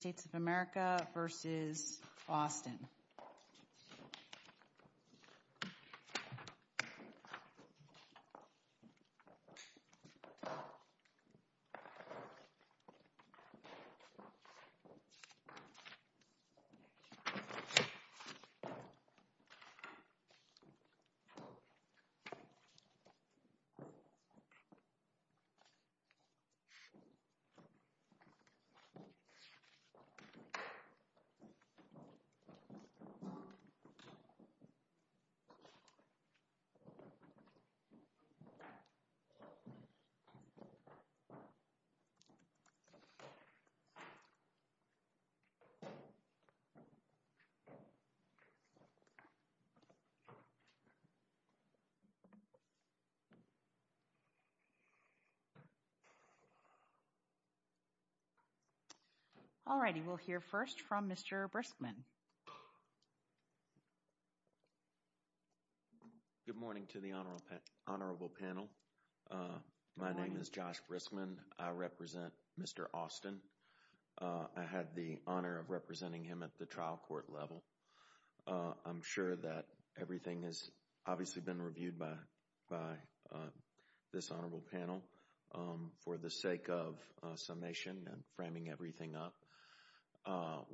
States of America v. Austin. I will hear first from Mr. Briskman. Good morning to the honorable panel. My name is Josh Briskman. I represent Mr. Austin. I had the honor of representing him at the trial court level. I'm sure that everything has obviously been reviewed by this honorable panel for the sake of summation and framing everything up.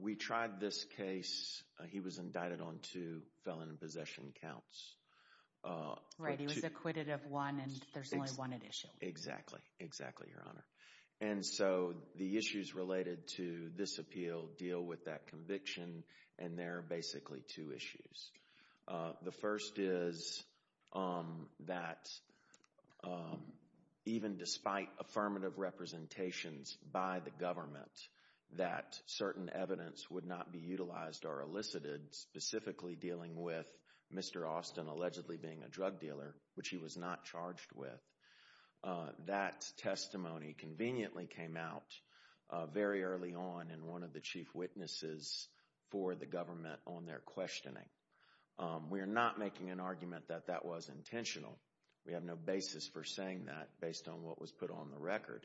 We tried this case. He was indicted on two felon in possession counts. Right. He was acquitted of one and there's only one additional. Exactly. Exactly, Your Honor. And so the issues related to this appeal deal with that conviction and there are basically two issues. The first is that even despite affirmative representations by the government that certain evidence would not be utilized or elicited, specifically dealing with Mr. Austin allegedly being a drug dealer, which he was not charged with. That testimony conveniently came out very early on in one of the chief witnesses for the government on their questioning. We are not making an argument that that was intentional. We have no basis for saying that based on what was put on the record.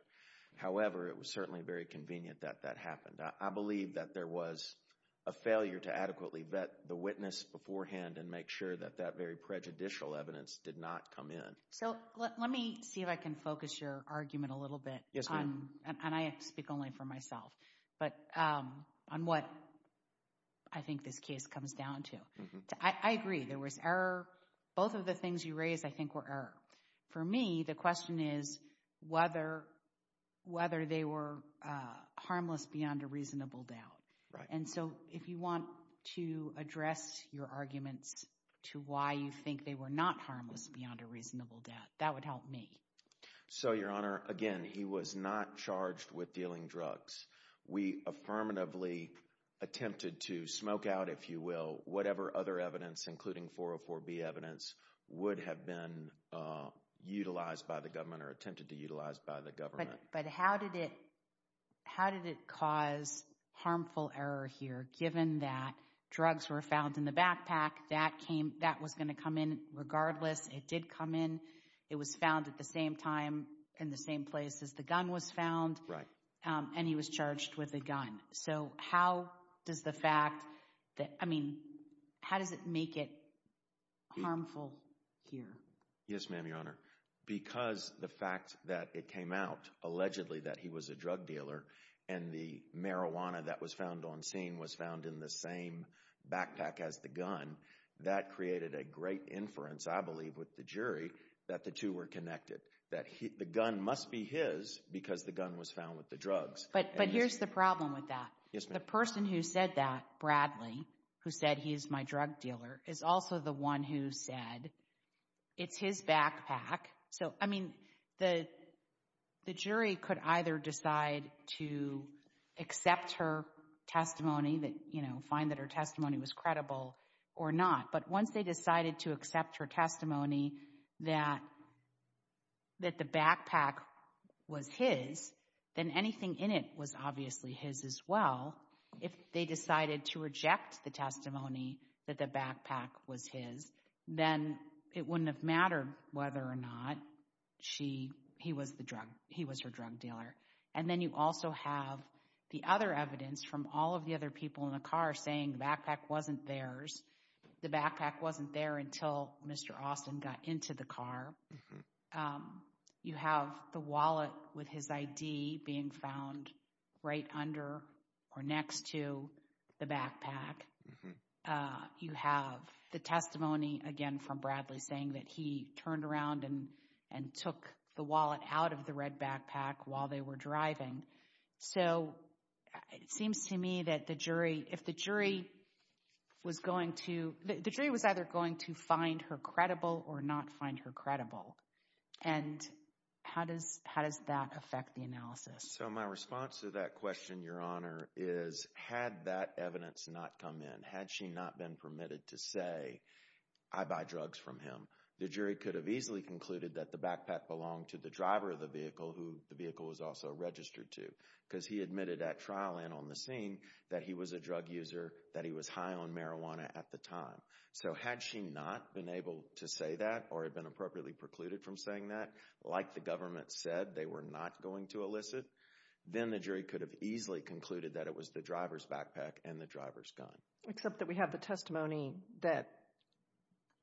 However, it was certainly very convenient that that happened. I believe that there was a failure to adequately vet the witness beforehand and make sure that that very prejudicial evidence did not come in. So let me see if I can focus your argument a little bit. Yes, ma'am. And I speak only for myself, but on what I think this case comes down to, I agree there was error. Both of the things you raised I think were error. For me, the question is whether they were harmless beyond a reasonable doubt. And so if you want to address your arguments to why you think they were not harmless beyond a reasonable doubt, that would help me. So, Your Honor, again, he was not charged with dealing drugs. We affirmatively attempted to smoke out, if you will, whatever other evidence, including 404B evidence, would have been utilized by the government or attempted to utilize by the government. But how did it cause harmful error here, given that drugs were found in the backpack? That was going to come in regardless. It did come in. It was found at the same time, in the same place as the gun was found, and he was charged with a gun. So how does the fact that, I mean, how does it make it harmful here? Yes, ma'am, Your Honor. Because the fact that it came out, allegedly, that he was a drug dealer, and the marijuana that was found on scene was found in the same backpack as the gun, that created a great inference, I believe, with the jury that the two were connected, that the gun must be his because the gun was found with the drugs. But here's the problem with that. Yes, ma'am. The person who said that, Bradley, who said, he's my drug dealer, is also the one who said, it's his backpack. So, I mean, the jury could either decide to accept her testimony, you know, find that her testimony was credible or not. But once they decided to accept her testimony that the backpack was his, then anything in it was obviously his as well. If they decided to reject the testimony that the backpack was his, then it wouldn't have mattered whether or not he was her drug dealer. And then you also have the other evidence from all of the other people in the car saying the backpack wasn't theirs. The backpack wasn't there until Mr. Austin got into the car. You have the wallet with his ID being found right under or next to the backpack. You have the testimony, again, from Bradley saying that he turned around and took the wallet out of the red backpack while they were driving. So, it seems to me that the jury, if the jury was going to, the jury was either going to find her credible or not find her credible. And how does that affect the analysis? So my response to that question, Your Honor, is had that evidence not come in, had she not been permitted to say, I buy drugs from him, the jury could have easily concluded that the backpack belonged to the driver of the vehicle who the vehicle was also registered to because he admitted at trial and on the scene that he was a drug user, that he was high on marijuana at the time. So had she not been able to say that or had been appropriately precluded from saying that, like the government said, they were not going to elicit, then the jury could have easily concluded that it was the driver's backpack and the driver's gun. Except that we have the testimony that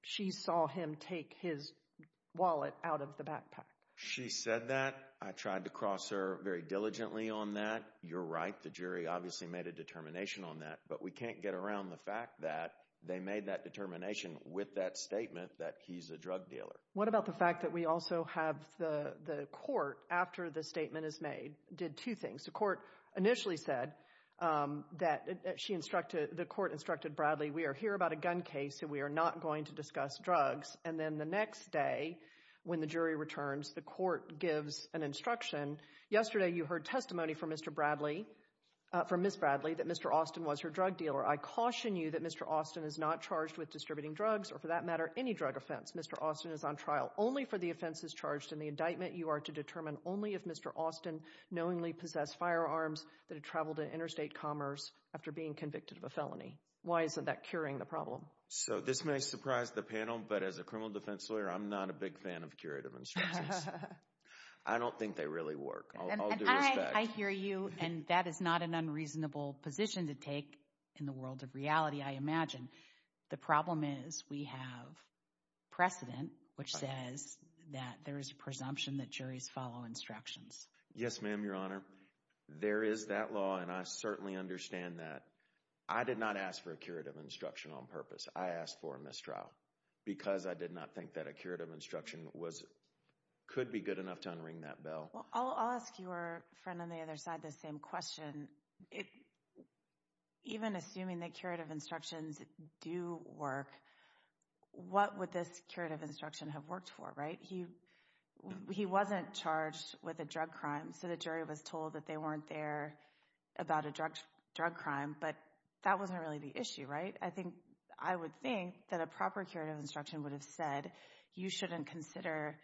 she saw him take his wallet out of the backpack. She said that. I tried to cross her very diligently on that. You're right. The jury obviously made a determination on that. But we can't get around the fact that they made that determination with that statement that he's a drug dealer. What about the fact that we also have the court, after the statement is made, did two things. The court initially said that she instructed, the court instructed Bradley, we are here about a gun case and we are not going to discuss drugs. And then the next day, when the jury returns, the court gives an instruction, yesterday you heard testimony from Mr. Bradley, from Ms. Bradley, that Mr. Austin was her drug dealer. I caution you that Mr. Austin is not charged with distributing drugs or for that matter any drug offense. Mr. Austin is on trial only for the offenses charged in the indictment. I caution you that you are to determine only if Mr. Austin knowingly possessed firearms that had traveled to interstate commerce after being convicted of a felony. Why isn't that curing the problem? So this may surprise the panel, but as a criminal defense lawyer, I'm not a big fan of curative instructions. I don't think they really work. And I hear you, and that is not an unreasonable position to take in the world of reality, I imagine. The problem is we have precedent which says that there is a presumption that juries follow instructions. Yes, ma'am, your honor. There is that law and I certainly understand that. I did not ask for a curative instruction on purpose. I asked for a mistrial because I did not think that a curative instruction could be good enough to unring that bell. I'll ask your friend on the other side the same question. Even assuming that curative instructions do work, what would this curative instruction have worked for, right? He wasn't charged with a drug crime, so the jury was told that they weren't there about a drug crime, but that wasn't really the issue, right? I think, I would think that a proper curative instruction would have said you shouldn't consider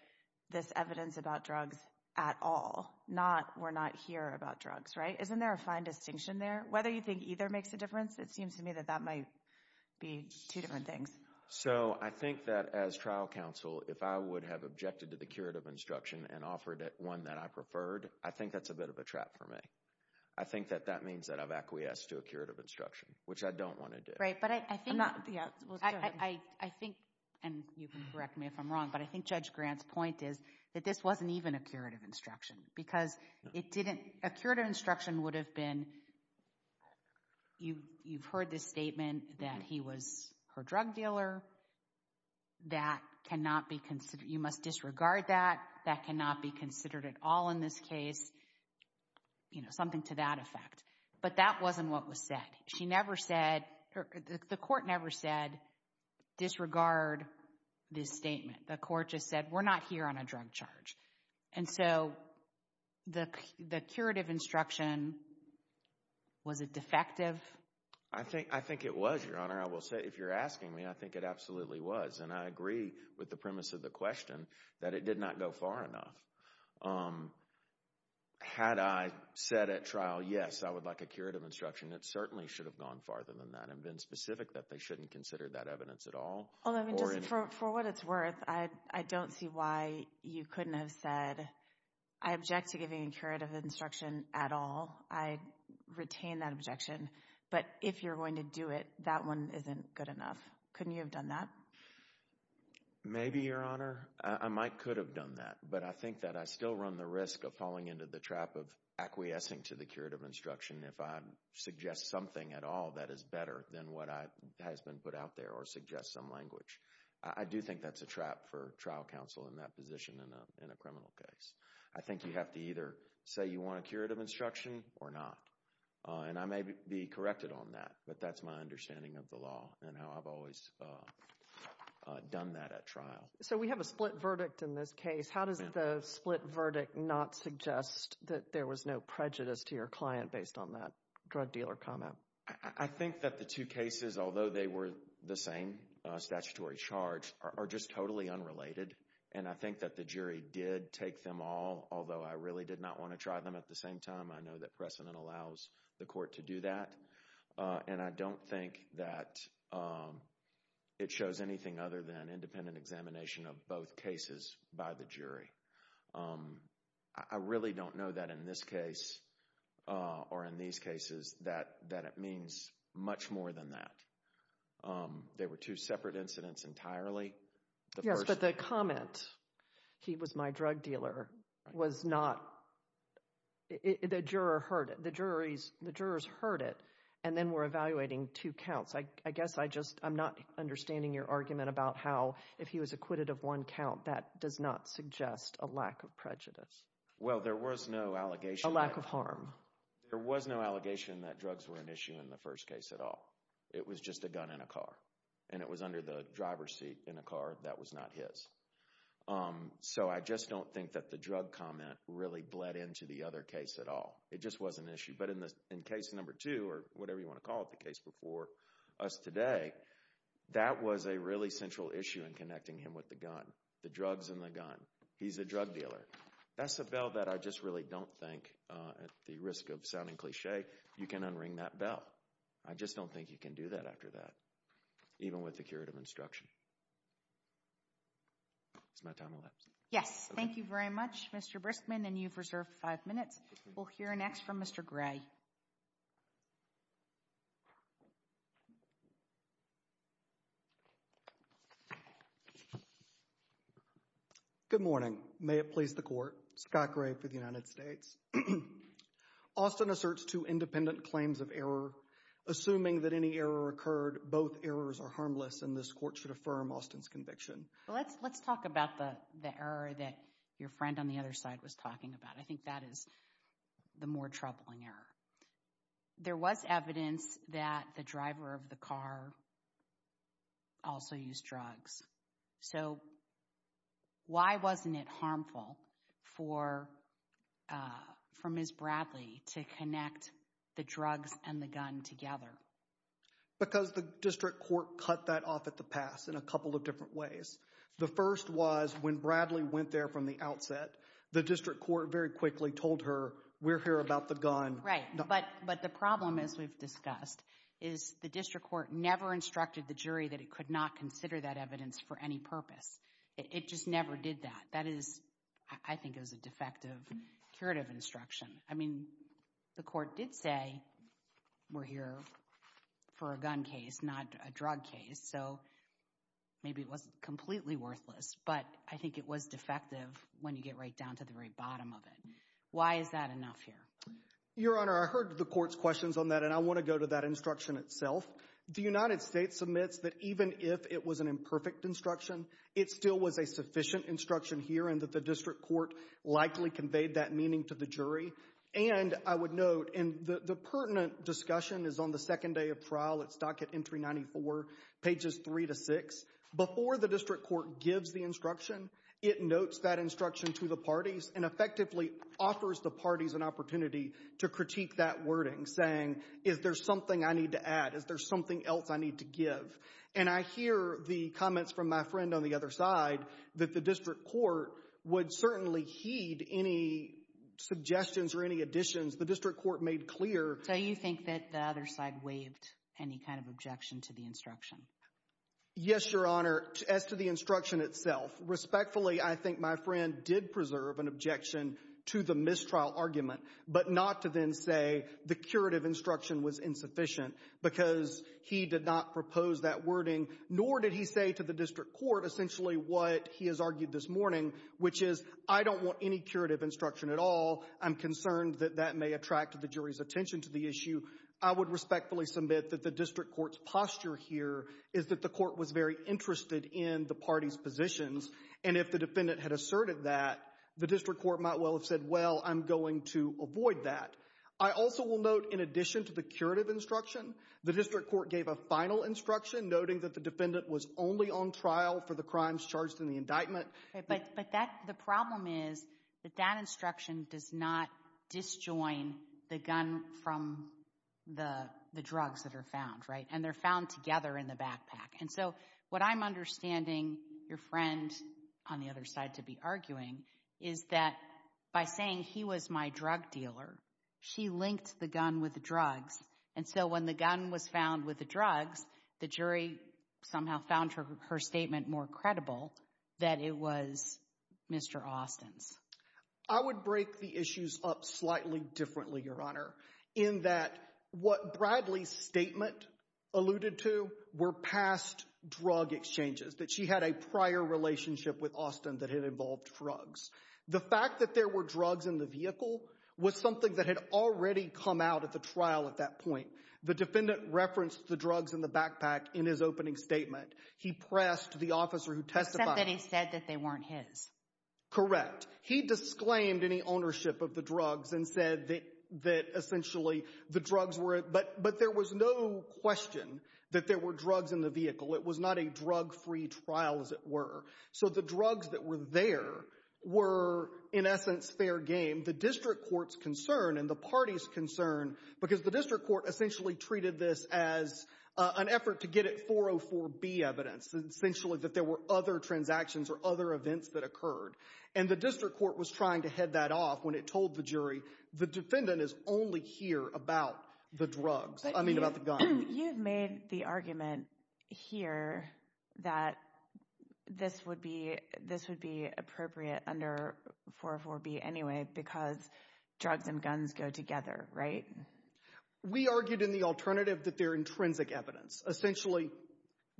this evidence about drugs at all, not we're not here about drugs, right? Isn't there a fine distinction there? Whether you think either makes a difference, it seems to me that that might be two different things. So, I think that as trial counsel, if I would have objected to the curative instruction and offered one that I preferred, I think that's a bit of a trap for me. I think that that means that I've acquiesced to a curative instruction, which I don't want to do. Right, but I think, and you can correct me if I'm wrong, but I think Judge Grant's point is that this wasn't even a curative instruction because it didn't, a curative instruction would have been, you've heard this statement that he was her drug dealer, that cannot be considered, you must disregard that, that cannot be considered at all in this case, you know, something to that effect. But that wasn't what was said. She never said, the court never said disregard this statement. The court just said, we're not here on a drug charge. And so, the curative instruction, was it defective? I think it was, Your Honor. I will say, if you're asking me, I think it absolutely was. And I agree with the premise of the question that it did not go far enough. Had I said at trial, yes, I would like a curative instruction, it certainly should have gone farther than that and been specific that they shouldn't consider that evidence at all. Well, I mean, just for what it's worth, I don't see why you couldn't have said, I object to giving a curative instruction at all, I retain that objection, but if you're going to do it, that one isn't good enough. Couldn't you have done that? Maybe Your Honor. I might could have done that, but I think that I still run the risk of falling into the trap of acquiescing to the curative instruction if I suggest something at all that is better than what has been put out there or suggests some language. I do think that's a trap for trial counsel in that position in a criminal case. I think you have to either say you want a curative instruction or not. And I may be corrected on that, but that's my understanding of the law and how I've always done that at trial. So, we have a split verdict in this case. How does the split verdict not suggest that there was no prejudice to your client based on that drug dealer comment? I think that the two cases, although they were the same statutory charge, are just totally unrelated. And I think that the jury did take them all, although I really did not want to try them at the same time. I know that precedent allows the court to do that. And I don't think that it shows anything other than independent examination of both cases by the jury. I really don't know that in this case or in these cases that it means much more than that. They were two separate incidents entirely. Yes, but the comment, he was my drug dealer, was not, the juror heard it. The jurors heard it and then were evaluating two counts. I guess I just, I'm not understanding your argument about how if he was acquitted of one count, that does not suggest a lack of prejudice. Well, there was no allegation. A lack of harm. There was no allegation that drugs were an issue in the first case at all. It was just a gun in a car. And it was under the driver's seat in a car that was not his. So I just don't think that the drug comment really bled into the other case at all. It just was an issue. But in case number two, or whatever you want to call it, the case before us today, that was a really central issue in connecting him with the gun. The drugs and the gun. He's a drug dealer. That's a bell that I just really don't think, at the risk of sounding cliche, you can unring that bell. I just don't think you can do that after that. Even with the curative instruction. Is my time elapsed? Yes. Thank you very much, Mr. Briskman, and you've reserved five minutes. We'll hear next from Mr. Gray. Good morning. May it please the court. Scott Gray for the United States. Austin asserts two independent claims of error. Assuming that any error occurred, both errors are harmless, and this court should affirm Austin's conviction. Well, let's talk about the error that your friend on the other side was talking about. I think that is the more troubling error. There was evidence that the driver of the car also used drugs. So, why wasn't it harmful for Ms. Bradley to connect the drugs and the gun together? Because the district court cut that off at the pass in a couple of different ways. The first was when Bradley went there from the outset, the district court very quickly told her, we're here about the gun. Right. But the problem, as we've discussed, is the district court never instructed the jury that it could not consider that evidence for any purpose. It just never did that. That is, I think it was a defective curative instruction. I mean, the court did say, we're here for a gun case, not a drug case. So, maybe it wasn't completely worthless, but I think it was defective when you get right down to the very bottom of it. Why is that enough here? Your Honor, I heard the court's questions on that, and I want to go to that instruction itself. The United States submits that even if it was an imperfect instruction, it still was a sufficient instruction here and that the district court likely conveyed that meaning to the jury. And I would note, and the pertinent discussion is on the second day of trial. It's docket entry 94, pages 3 to 6. Before the district court gives the instruction, it notes that instruction to the parties and effectively offers the parties an opportunity to critique that wording, saying, is there something I need to add? Is there something else I need to give? And I hear the comments from my friend on the other side that the district court would certainly heed any suggestions or any additions the district court made clear. So you think that the other side waived any kind of objection to the instruction? Yes, Your Honor. As to the instruction itself, respectfully, I think my friend did preserve an objection to the mistrial argument, but not to then say the curative instruction was insufficient because he did not propose that wording, nor did he say to the district court essentially what he has argued this morning, which is I don't want any curative instruction at all. I'm concerned that that may attract the jury's attention to the issue. I would respectfully submit that the district court's posture here is that the court was very interested in the party's positions, and if the defendant had asserted that, the district court might well have said, well, I'm going to avoid that. I also will note in addition to the curative instruction, the district court gave a final instruction noting that the defendant was only on trial for the crimes charged in the indictment. But the problem is that that instruction does not disjoin the gun from the drugs that are found, right? And they're found together in the backpack. And so what I'm understanding your friend on the other side to be arguing is that by saying he was my drug dealer, she linked the gun with the drugs. And so when the gun was found with the drugs, the jury somehow found her statement more credible that it was Mr. Austin's. I would break the issues up slightly differently, Your Honor, in that what Bradley's statement alluded to were past drug exchanges, that she had a prior relationship with Austin that had involved drugs. The fact that there were drugs in the vehicle was something that had already come out at the trial at that point. The defendant referenced the drugs in the backpack in his opening statement. He pressed the officer who testified. Except that he said that they weren't his. Correct. He disclaimed any ownership of the drugs and said that essentially the drugs were – but there was no question that there were drugs in the vehicle. It was not a drug-free trial, as it were. So the drugs that were there were, in essence, fair game. The district court's concern and the party's concern, because the district court essentially treated this as an effort to get at 404B evidence, essentially that there were other transactions or other events that occurred. And the district court was trying to head that off when it told the jury the defendant is only here about the drugs – I mean about the gun. But you've made the argument here that this would be appropriate under 404B anyway because drugs and guns go together, right? We argued in the alternative that they're intrinsic evidence. Essentially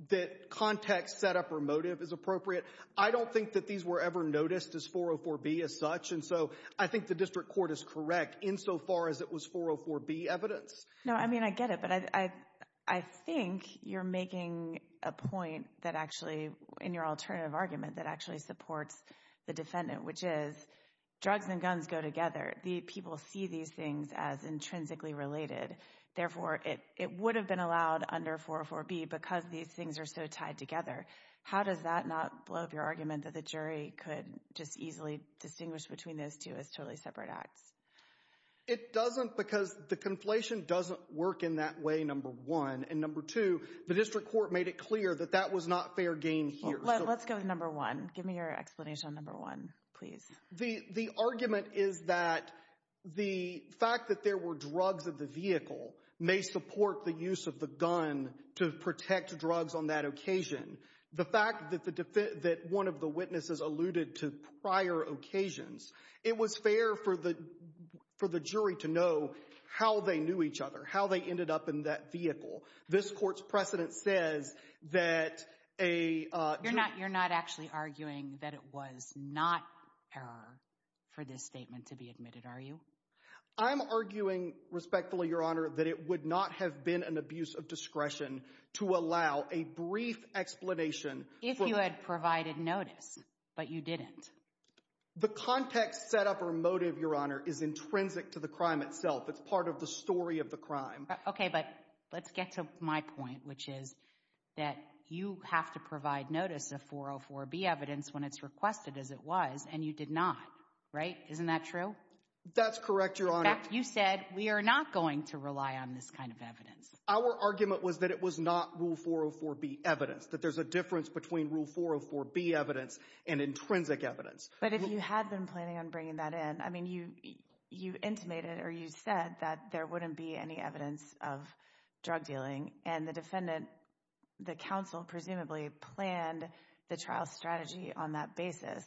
that context, setup, or motive is appropriate. I don't think that these were ever noticed as 404B as such. And so I think the district court is correct insofar as it was 404B evidence. No, I mean, I get it. But I think you're making a point that actually – in your alternative argument – that actually supports the defendant, which is drugs and guns go together. People see these things as intrinsically related. Therefore, it would have been allowed under 404B because these things are so tied together. How does that not blow up your argument that the jury could just easily distinguish between those two as totally separate acts? It doesn't because the conflation doesn't work in that way, number one. And number two, the district court made it clear that that was not fair game here. Let's go with number one. Give me your explanation on number one, please. The argument is that the fact that there were drugs in the vehicle may support the use of the gun to protect drugs on that occasion. The fact that one of the witnesses alluded to prior occasions, it was fair for the jury to know how they knew each other, how they ended up in that vehicle. This court's precedent says that a – You're not – you're not actually arguing that it was not error for this statement to be admitted, are you? I'm arguing respectfully, Your Honor, that it would not have been an abuse of discretion to allow a brief explanation – If you had provided notice, but you didn't. The context, setup, or motive, Your Honor, is intrinsic to the crime itself. It's part of the story of the crime. Okay, but let's get to my point, which is that you have to provide notice of 404B evidence when it's requested as it was, and you did not, right? Isn't that true? That's correct, Your Honor. In fact, you said, we are not going to rely on this kind of evidence. Our argument was that it was not Rule 404B evidence, that there's a difference between Rule 404B evidence and intrinsic evidence. But if you had been planning on bringing that in, I mean, you – the defense of drug dealing, and the defendant, the counsel, presumably planned the trial strategy on that basis,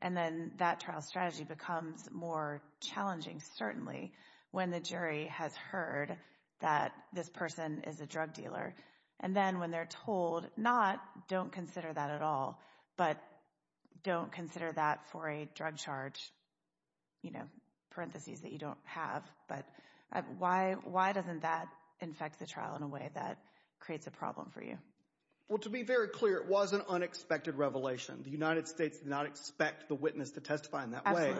and then that trial strategy becomes more challenging, certainly, when the jury has heard that this person is a drug dealer. And then when they're told not, don't consider that at all, but don't consider that for a drug charge, you know, why doesn't that infect the trial in a way that creates a problem for you? Well, to be very clear, it was an unexpected revelation. The United States did not expect the witness to testify in that way.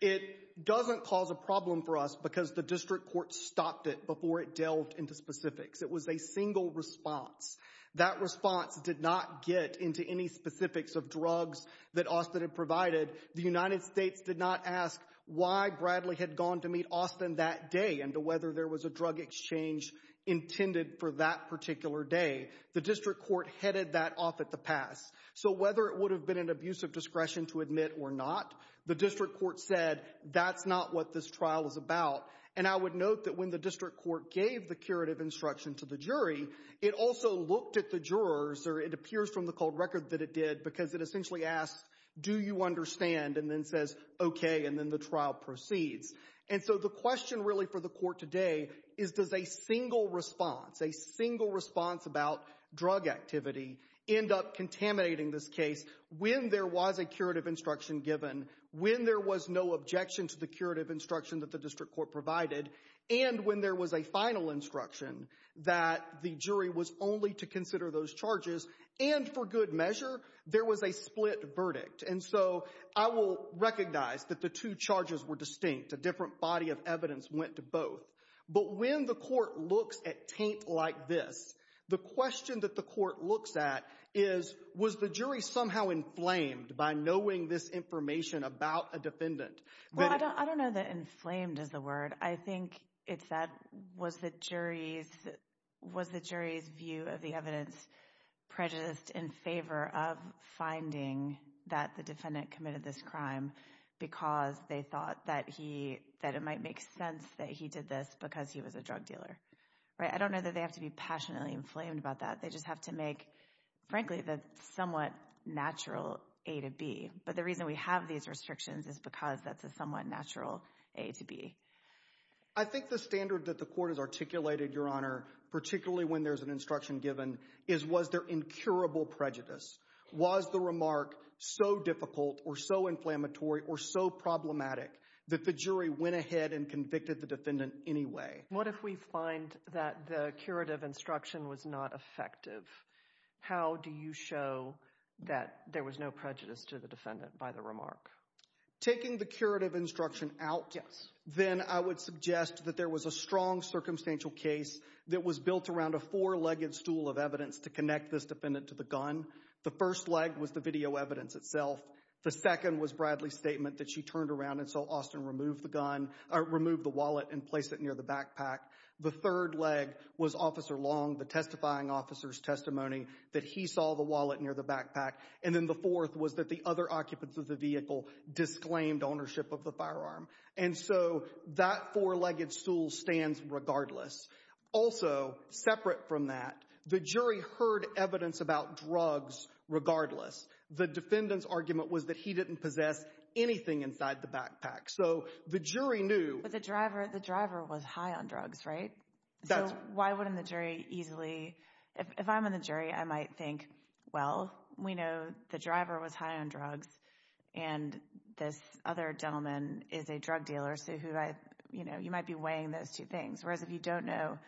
It doesn't cause a problem for us because the district court stopped it before it delved into specifics. It was a single response. That response did not get into any specifics of drugs that Austin had provided. The United States did not ask why Bradley had gone to meet Austin that day and to whether there was a drug exchange intended for that particular day. The district court headed that off at the pass. So whether it would have been an abuse of discretion to admit or not, the district court said, that's not what this trial is about. And I would note that when the district court gave the curative instruction to the jury, it also looked at the jurors, or it appears from the cold record that it did, because it essentially asked, do you understand, and then says, okay, and then the trial proceeds. And so the question really for the court today is, does a single response, a single response about drug activity, end up contaminating this case when there was a curative instruction given, when there was no objection to the curative instruction that the district court provided, and when there was a final instruction that the jury was only to consider those charges, and for good measure, there was a split verdict. And so I will recognize that the two charges were distinct. A different body of evidence went to both. But when the court looks at taint like this, the question that the court looks at is, was the jury somehow inflamed by knowing this information about a defendant? Well, I don't know that inflamed is the word. I think it's that was the jury's, was the jury's view of the evidence prejudiced in favor of finding that the defendant committed this crime because they thought that he, that it might make sense that he did this because he was a drug dealer. I don't know that they have to be passionately inflamed about that. They just have to make, frankly, the somewhat natural A to B. But the reason we have these restrictions is because that's a somewhat natural A to B. I think the standard that the court has articulated, Your Honor, particularly when there's an instruction given, is was there incurable prejudice? Was the remark so difficult or so inflammatory or so problematic that the jury went ahead and convicted the defendant anyway? What if we find that the curative instruction was not effective? How do you show that there was no prejudice to the defendant by the remark? Taking the curative instruction out? Yes. Then I would suggest that there was a strong circumstantial case that was built around a four-legged stool of evidence to connect this defendant to the gun. The first leg was the video evidence itself. The second was Bradley's statement that she turned around and saw Austin remove the gun, remove the wallet and place it near the backpack. The third leg was Officer Long, the testifying officer's testimony that he saw the wallet near the backpack. And then the fourth was that the other occupants of the vehicle disclaimed ownership of the firearm. And so that four-legged stool stands regardless. Also, separate from that, the jury heard evidence about drugs regardless. The defendant's argument was that he didn't possess anything inside the backpack. So the jury knew... But the driver was high on drugs, right? That's... So why wouldn't the jury easily... If I'm in the jury, I might think, well, we know the driver was high on drugs and this other gentleman is a drug dealer, so you might be weighing those two things. Whereas if you don't know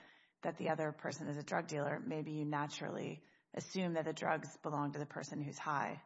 that the other person is a drug dealer, maybe you naturally assume that the drugs belong to the person who's high.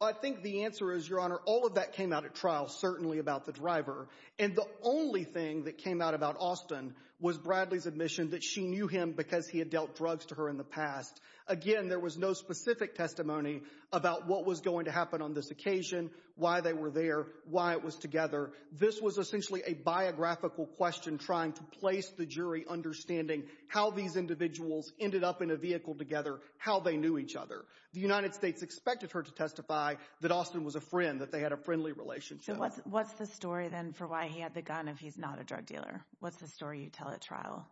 I think the answer is, Your Honor, all of that came out at trial, certainly about the driver. And the only thing that came out about Austin was Bradley's admission that she knew him because he had dealt drugs to her in the past. Again, there was no specific testimony about what was going to happen on this occasion, why they were there, why it was together. This was essentially a biographical question in trying to place the jury understanding how these individuals ended up in a vehicle together, how they knew each other. The United States expected her to testify that Austin was a friend, that they had a friendly relationship. So what's the story, then, for why he had the gun if he's not a drug dealer? What's the story you tell at trial?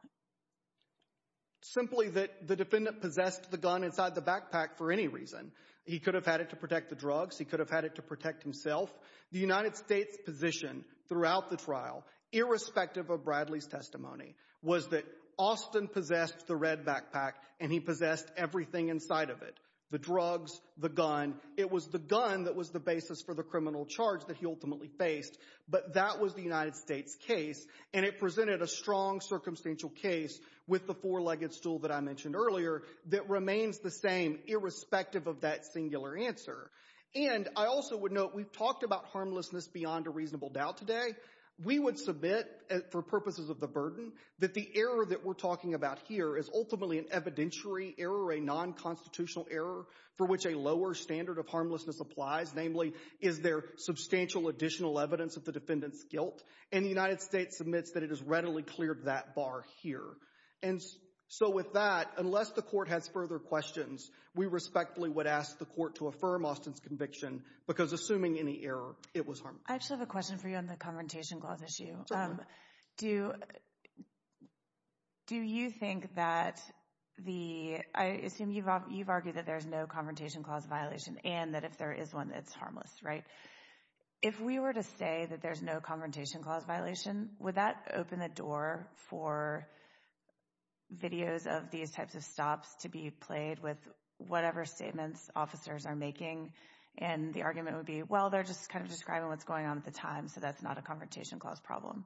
Simply that the defendant possessed the gun inside the backpack for any reason. He could have had it to protect the drugs, he could have had it to protect himself. The United States' position throughout the trial, irrespective of Bradley's testimony, was that Austin possessed the red backpack and he possessed everything inside of it. The drugs, the gun. It was the gun that was the basis for the criminal charge that he ultimately faced, but that was the United States' case, and it presented a strong circumstantial case with the four-legged stool that I mentioned earlier that remains the same, irrespective of that singular answer. And I also would note, we've talked about harmlessness beyond a reasonable doubt today. We would submit, for purposes of the burden, that the error that we're talking about here is ultimately an evidentiary error, a non-constitutional error, for which a lower standard of harmlessness applies. Namely, is there substantial additional evidence of the defendant's guilt? And the United States admits that it has readily cleared that bar here. And so with that, unless the court has further questions, we respectfully would ask the court to affirm Austin's conviction, because assuming any error, it was harmless. I actually have a question for you on the Confrontation Clause issue. Do... Do you think that the... I assume you've argued that there's no Confrontation Clause violation and that if there is one, it's harmless, right? If we were to say that there's no Confrontation Clause violation, would that open the door for videos of these types of stops to be played with whatever statements officers are making? And the argument would be, well, they're just kind of describing what's going on at the time, so that's not a Confrontation Clause problem.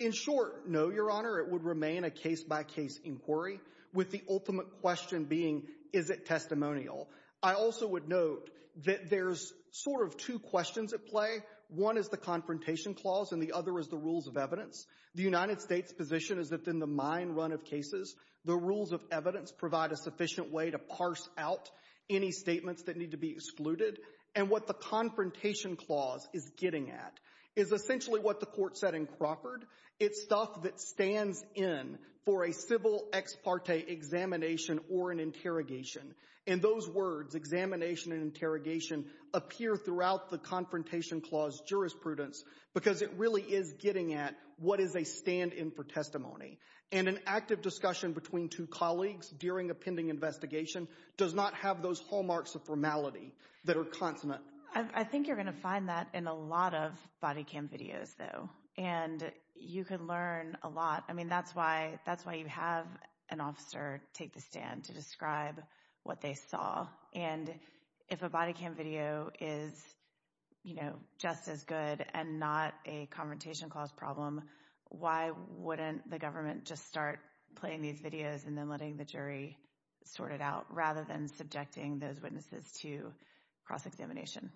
In short, no, Your Honor. It would remain a case-by-case inquiry with the ultimate question being, is it testimonial? I also would note that there's sort of two questions at play. One is the Confrontation Clause and the other is the rules of evidence. The United States' position is that in the mine run of cases, the rules of evidence provide a sufficient way to parse out any statements that need to be excluded. And what the Confrontation Clause is getting at is essentially what the court said in Crawford. It's stuff that stands in for a civil ex parte examination or an interrogation. And those words, examination and interrogation, appear throughout the Confrontation Clause jurisprudence because it really is getting at what is a stand-in for testimony. And an active discussion between two colleagues during a pending investigation does not have those hallmarks of formality that are consonant. I think you're going to find that in a lot of body cam videos though. And you could learn a lot. I mean, that's why you have an officer take the stand to describe what they saw. And if a body cam video is just as good and not a Confrontation Clause problem, why wouldn't the government just start playing these videos and then letting the jury sort it out rather than subjecting those witnesses to cross-examination?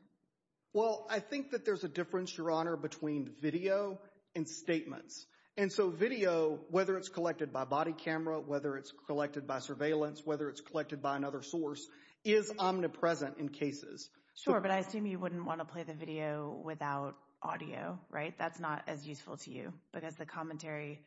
Well, I think that there's a difference, Your Honor, between video and statements. And so video, whether it's collected by body camera, whether it's collected by surveillance, whether it's collected by another source, is omnipresent in cases. Sure, but I assume you wouldn't want to play the video without audio, right? That's not as useful to you. Because the commentary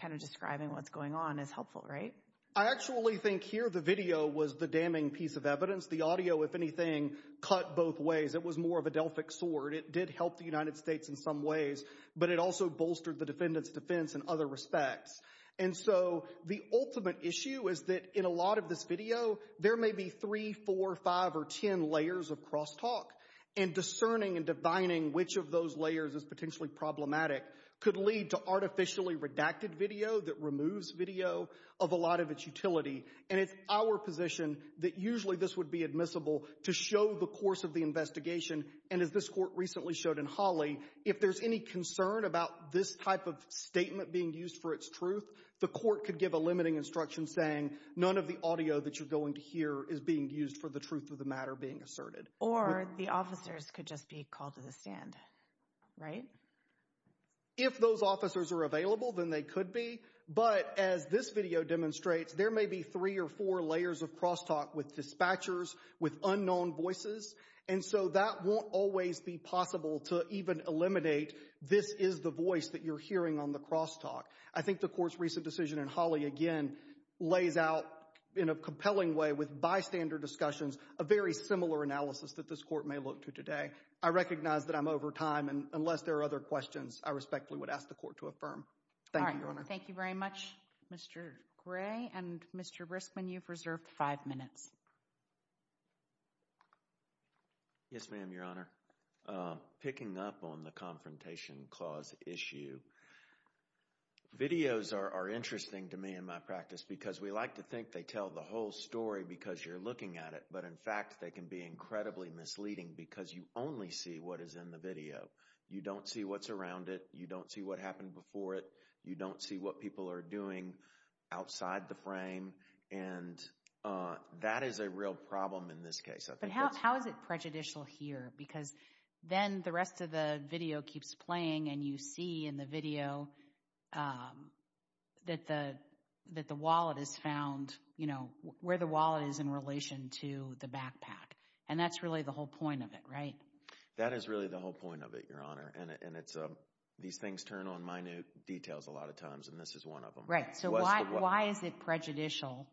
kind of describing what's going on is helpful, right? I actually think here the video was the damning piece of evidence. The audio, if anything, cut both ways. It was more of a Delphic sword. It did help the United States in some ways. But it also bolstered the defendant's defense in other respects. And so the ultimate issue is that in a lot of this video, there may be three, four, five, or ten layers of cross-talk. And discerning and defining which of those is problematic could lead to artificially redacted video that removes video of a lot of its utility. And it's our position that usually this would be admissible to show the course of the investigation. And as this court recently showed in Hawley, if there's any concern about this type of statement being used for its truth, the court could give a limiting instruction saying, none of the audio that you're going to hear is being used for the truth of the matter being asserted. Or the officers could just be called to the stand. Right? If those officers are available, then they could be. But as this video demonstrates, there may be three or four layers of cross-talk with dispatchers, with unknown voices. And so that won't always be possible to even eliminate, this is the voice that you're hearing on the cross-talk. I think the court's recent decision in Hawley, again, lays out in a compelling way with bystander discussions a very similar analysis that this court may look to today. I recognize that I'm over time, and unless there are other questions, I respectfully would ask the court to affirm. Thank you, Your Honor. Thank you very much, Mr. Gray. And Mr. Riskman, you've reserved five minutes. Yes, ma'am, Your Honor. Picking up on the Confrontation Clause issue, videos are interesting to me in my practice because we like to think they tell the whole story because you're looking at it. But in fact, they can be incredibly misleading because you only see what is in the video. You don't see what's around it. You don't see what happened before it. You don't see what people are doing outside the frame. And that is a real problem in this case. But how is it prejudicial here? Because then the rest of the video keeps playing, and you see in the video that the wallet is found, you know, where the wallet is in relation to the backpack. And that's really the whole point of it, right? That is really the whole point of it, Your Honor. These things turn on minute details a lot of times, and this is one of them. Right. So why is it prejudicial?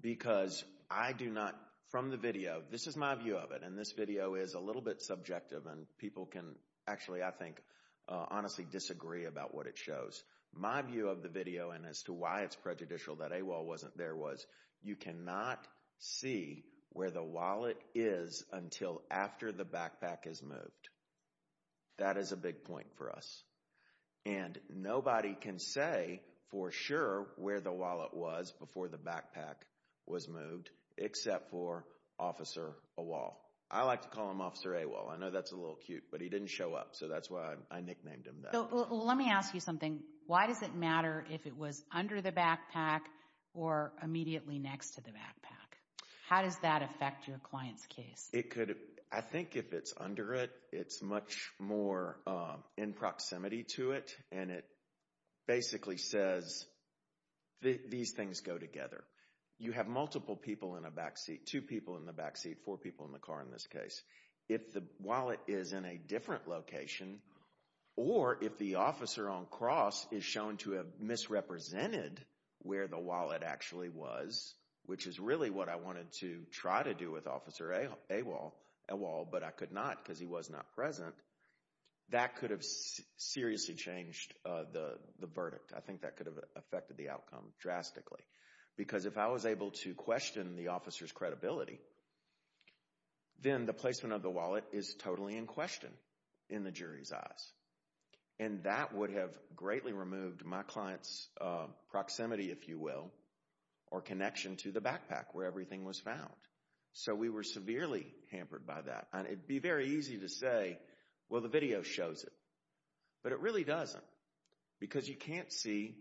Because I do not, from the video, this is my view of it, and this video is a little bit subjective, and people can actually, I think, honestly disagree about what it shows. My view of the video and as to why it's prejudicial that AWOL wasn't there was you cannot see where the wallet is until after the backpack is moved. That is a big point for us. And nobody can say for sure where the wallet was before the backpack was moved except for Officer AWOL. I like to call him Officer AWOL. I know that's a little cute, but he didn't show up, so that's why I nicknamed him that. Let me ask you something. Why does it matter if it was under the backpack or immediately next to the backpack? How does that affect your client's case? I think if it's under it, it's much more in proximity to it, and it basically says these things go together. You have multiple people in a back seat, two people in the back seat, four people in the car in this case. If the wallet is in a different location or if the officer on cross is shown to have misrepresented where the wallet actually was, which is really what I wanted to try to do with Officer AWOL, but I could not because he was not present, that could have seriously changed the verdict. I think that could have affected the outcome drastically. Because if I was able to question the officer's credibility, then the placement of the wallet is totally in question in the jury's eyes. And that would have greatly removed my client's proximity, if you will, or connection to the backpack where everything was found. So we were severely hampered by that. And it would be very easy to say well the video shows it. But it really doesn't. Because you can't see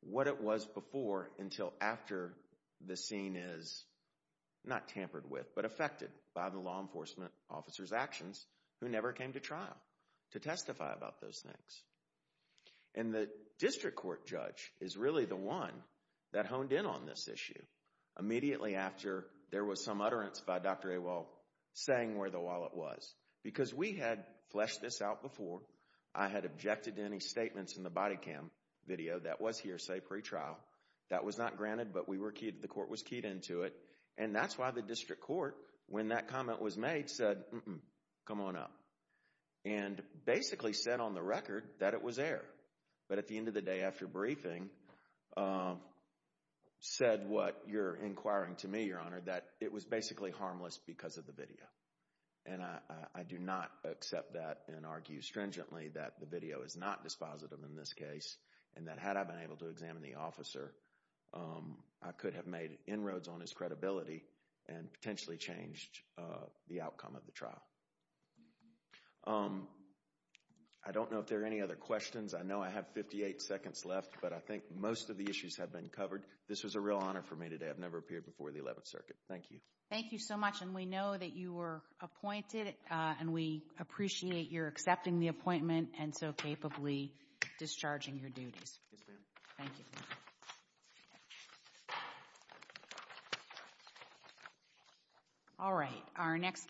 what it was before until after the scene is not tampered with, but affected by the law enforcement officer's actions who never came to trial to testify about those things. And the district court judge is really the one that honed in on this issue immediately after there was some utterance by Dr. AWOL saying where the wallet was. Because we had fleshed this out before. I had objected to any statements in the body cam video that was here say pre-trial. That was not granted, but the court was keyed into it. And that's why the district court, when that comment was made, said come on up. And basically said on the record that it was there. But at the end of the day after briefing said what you're inquiring to me, your honor, that it was basically harmless because of the video. And I do not accept that and argue stringently that the video is not dispositive in this case. And that had I been able to examine the officer, I could have made inroads on his credibility and potentially changed the outcome of the trial. I don't know if there are any other questions. I know I have 58 seconds left, but I think most of the issues have been covered. This was a real honor for me today. I've never appeared before the 11th Circuit. Thank you. Thank you so much. And we know that you were appointed and we appreciate your accepting the appointment and so capably discharging your duties. Thank you. All right. Our next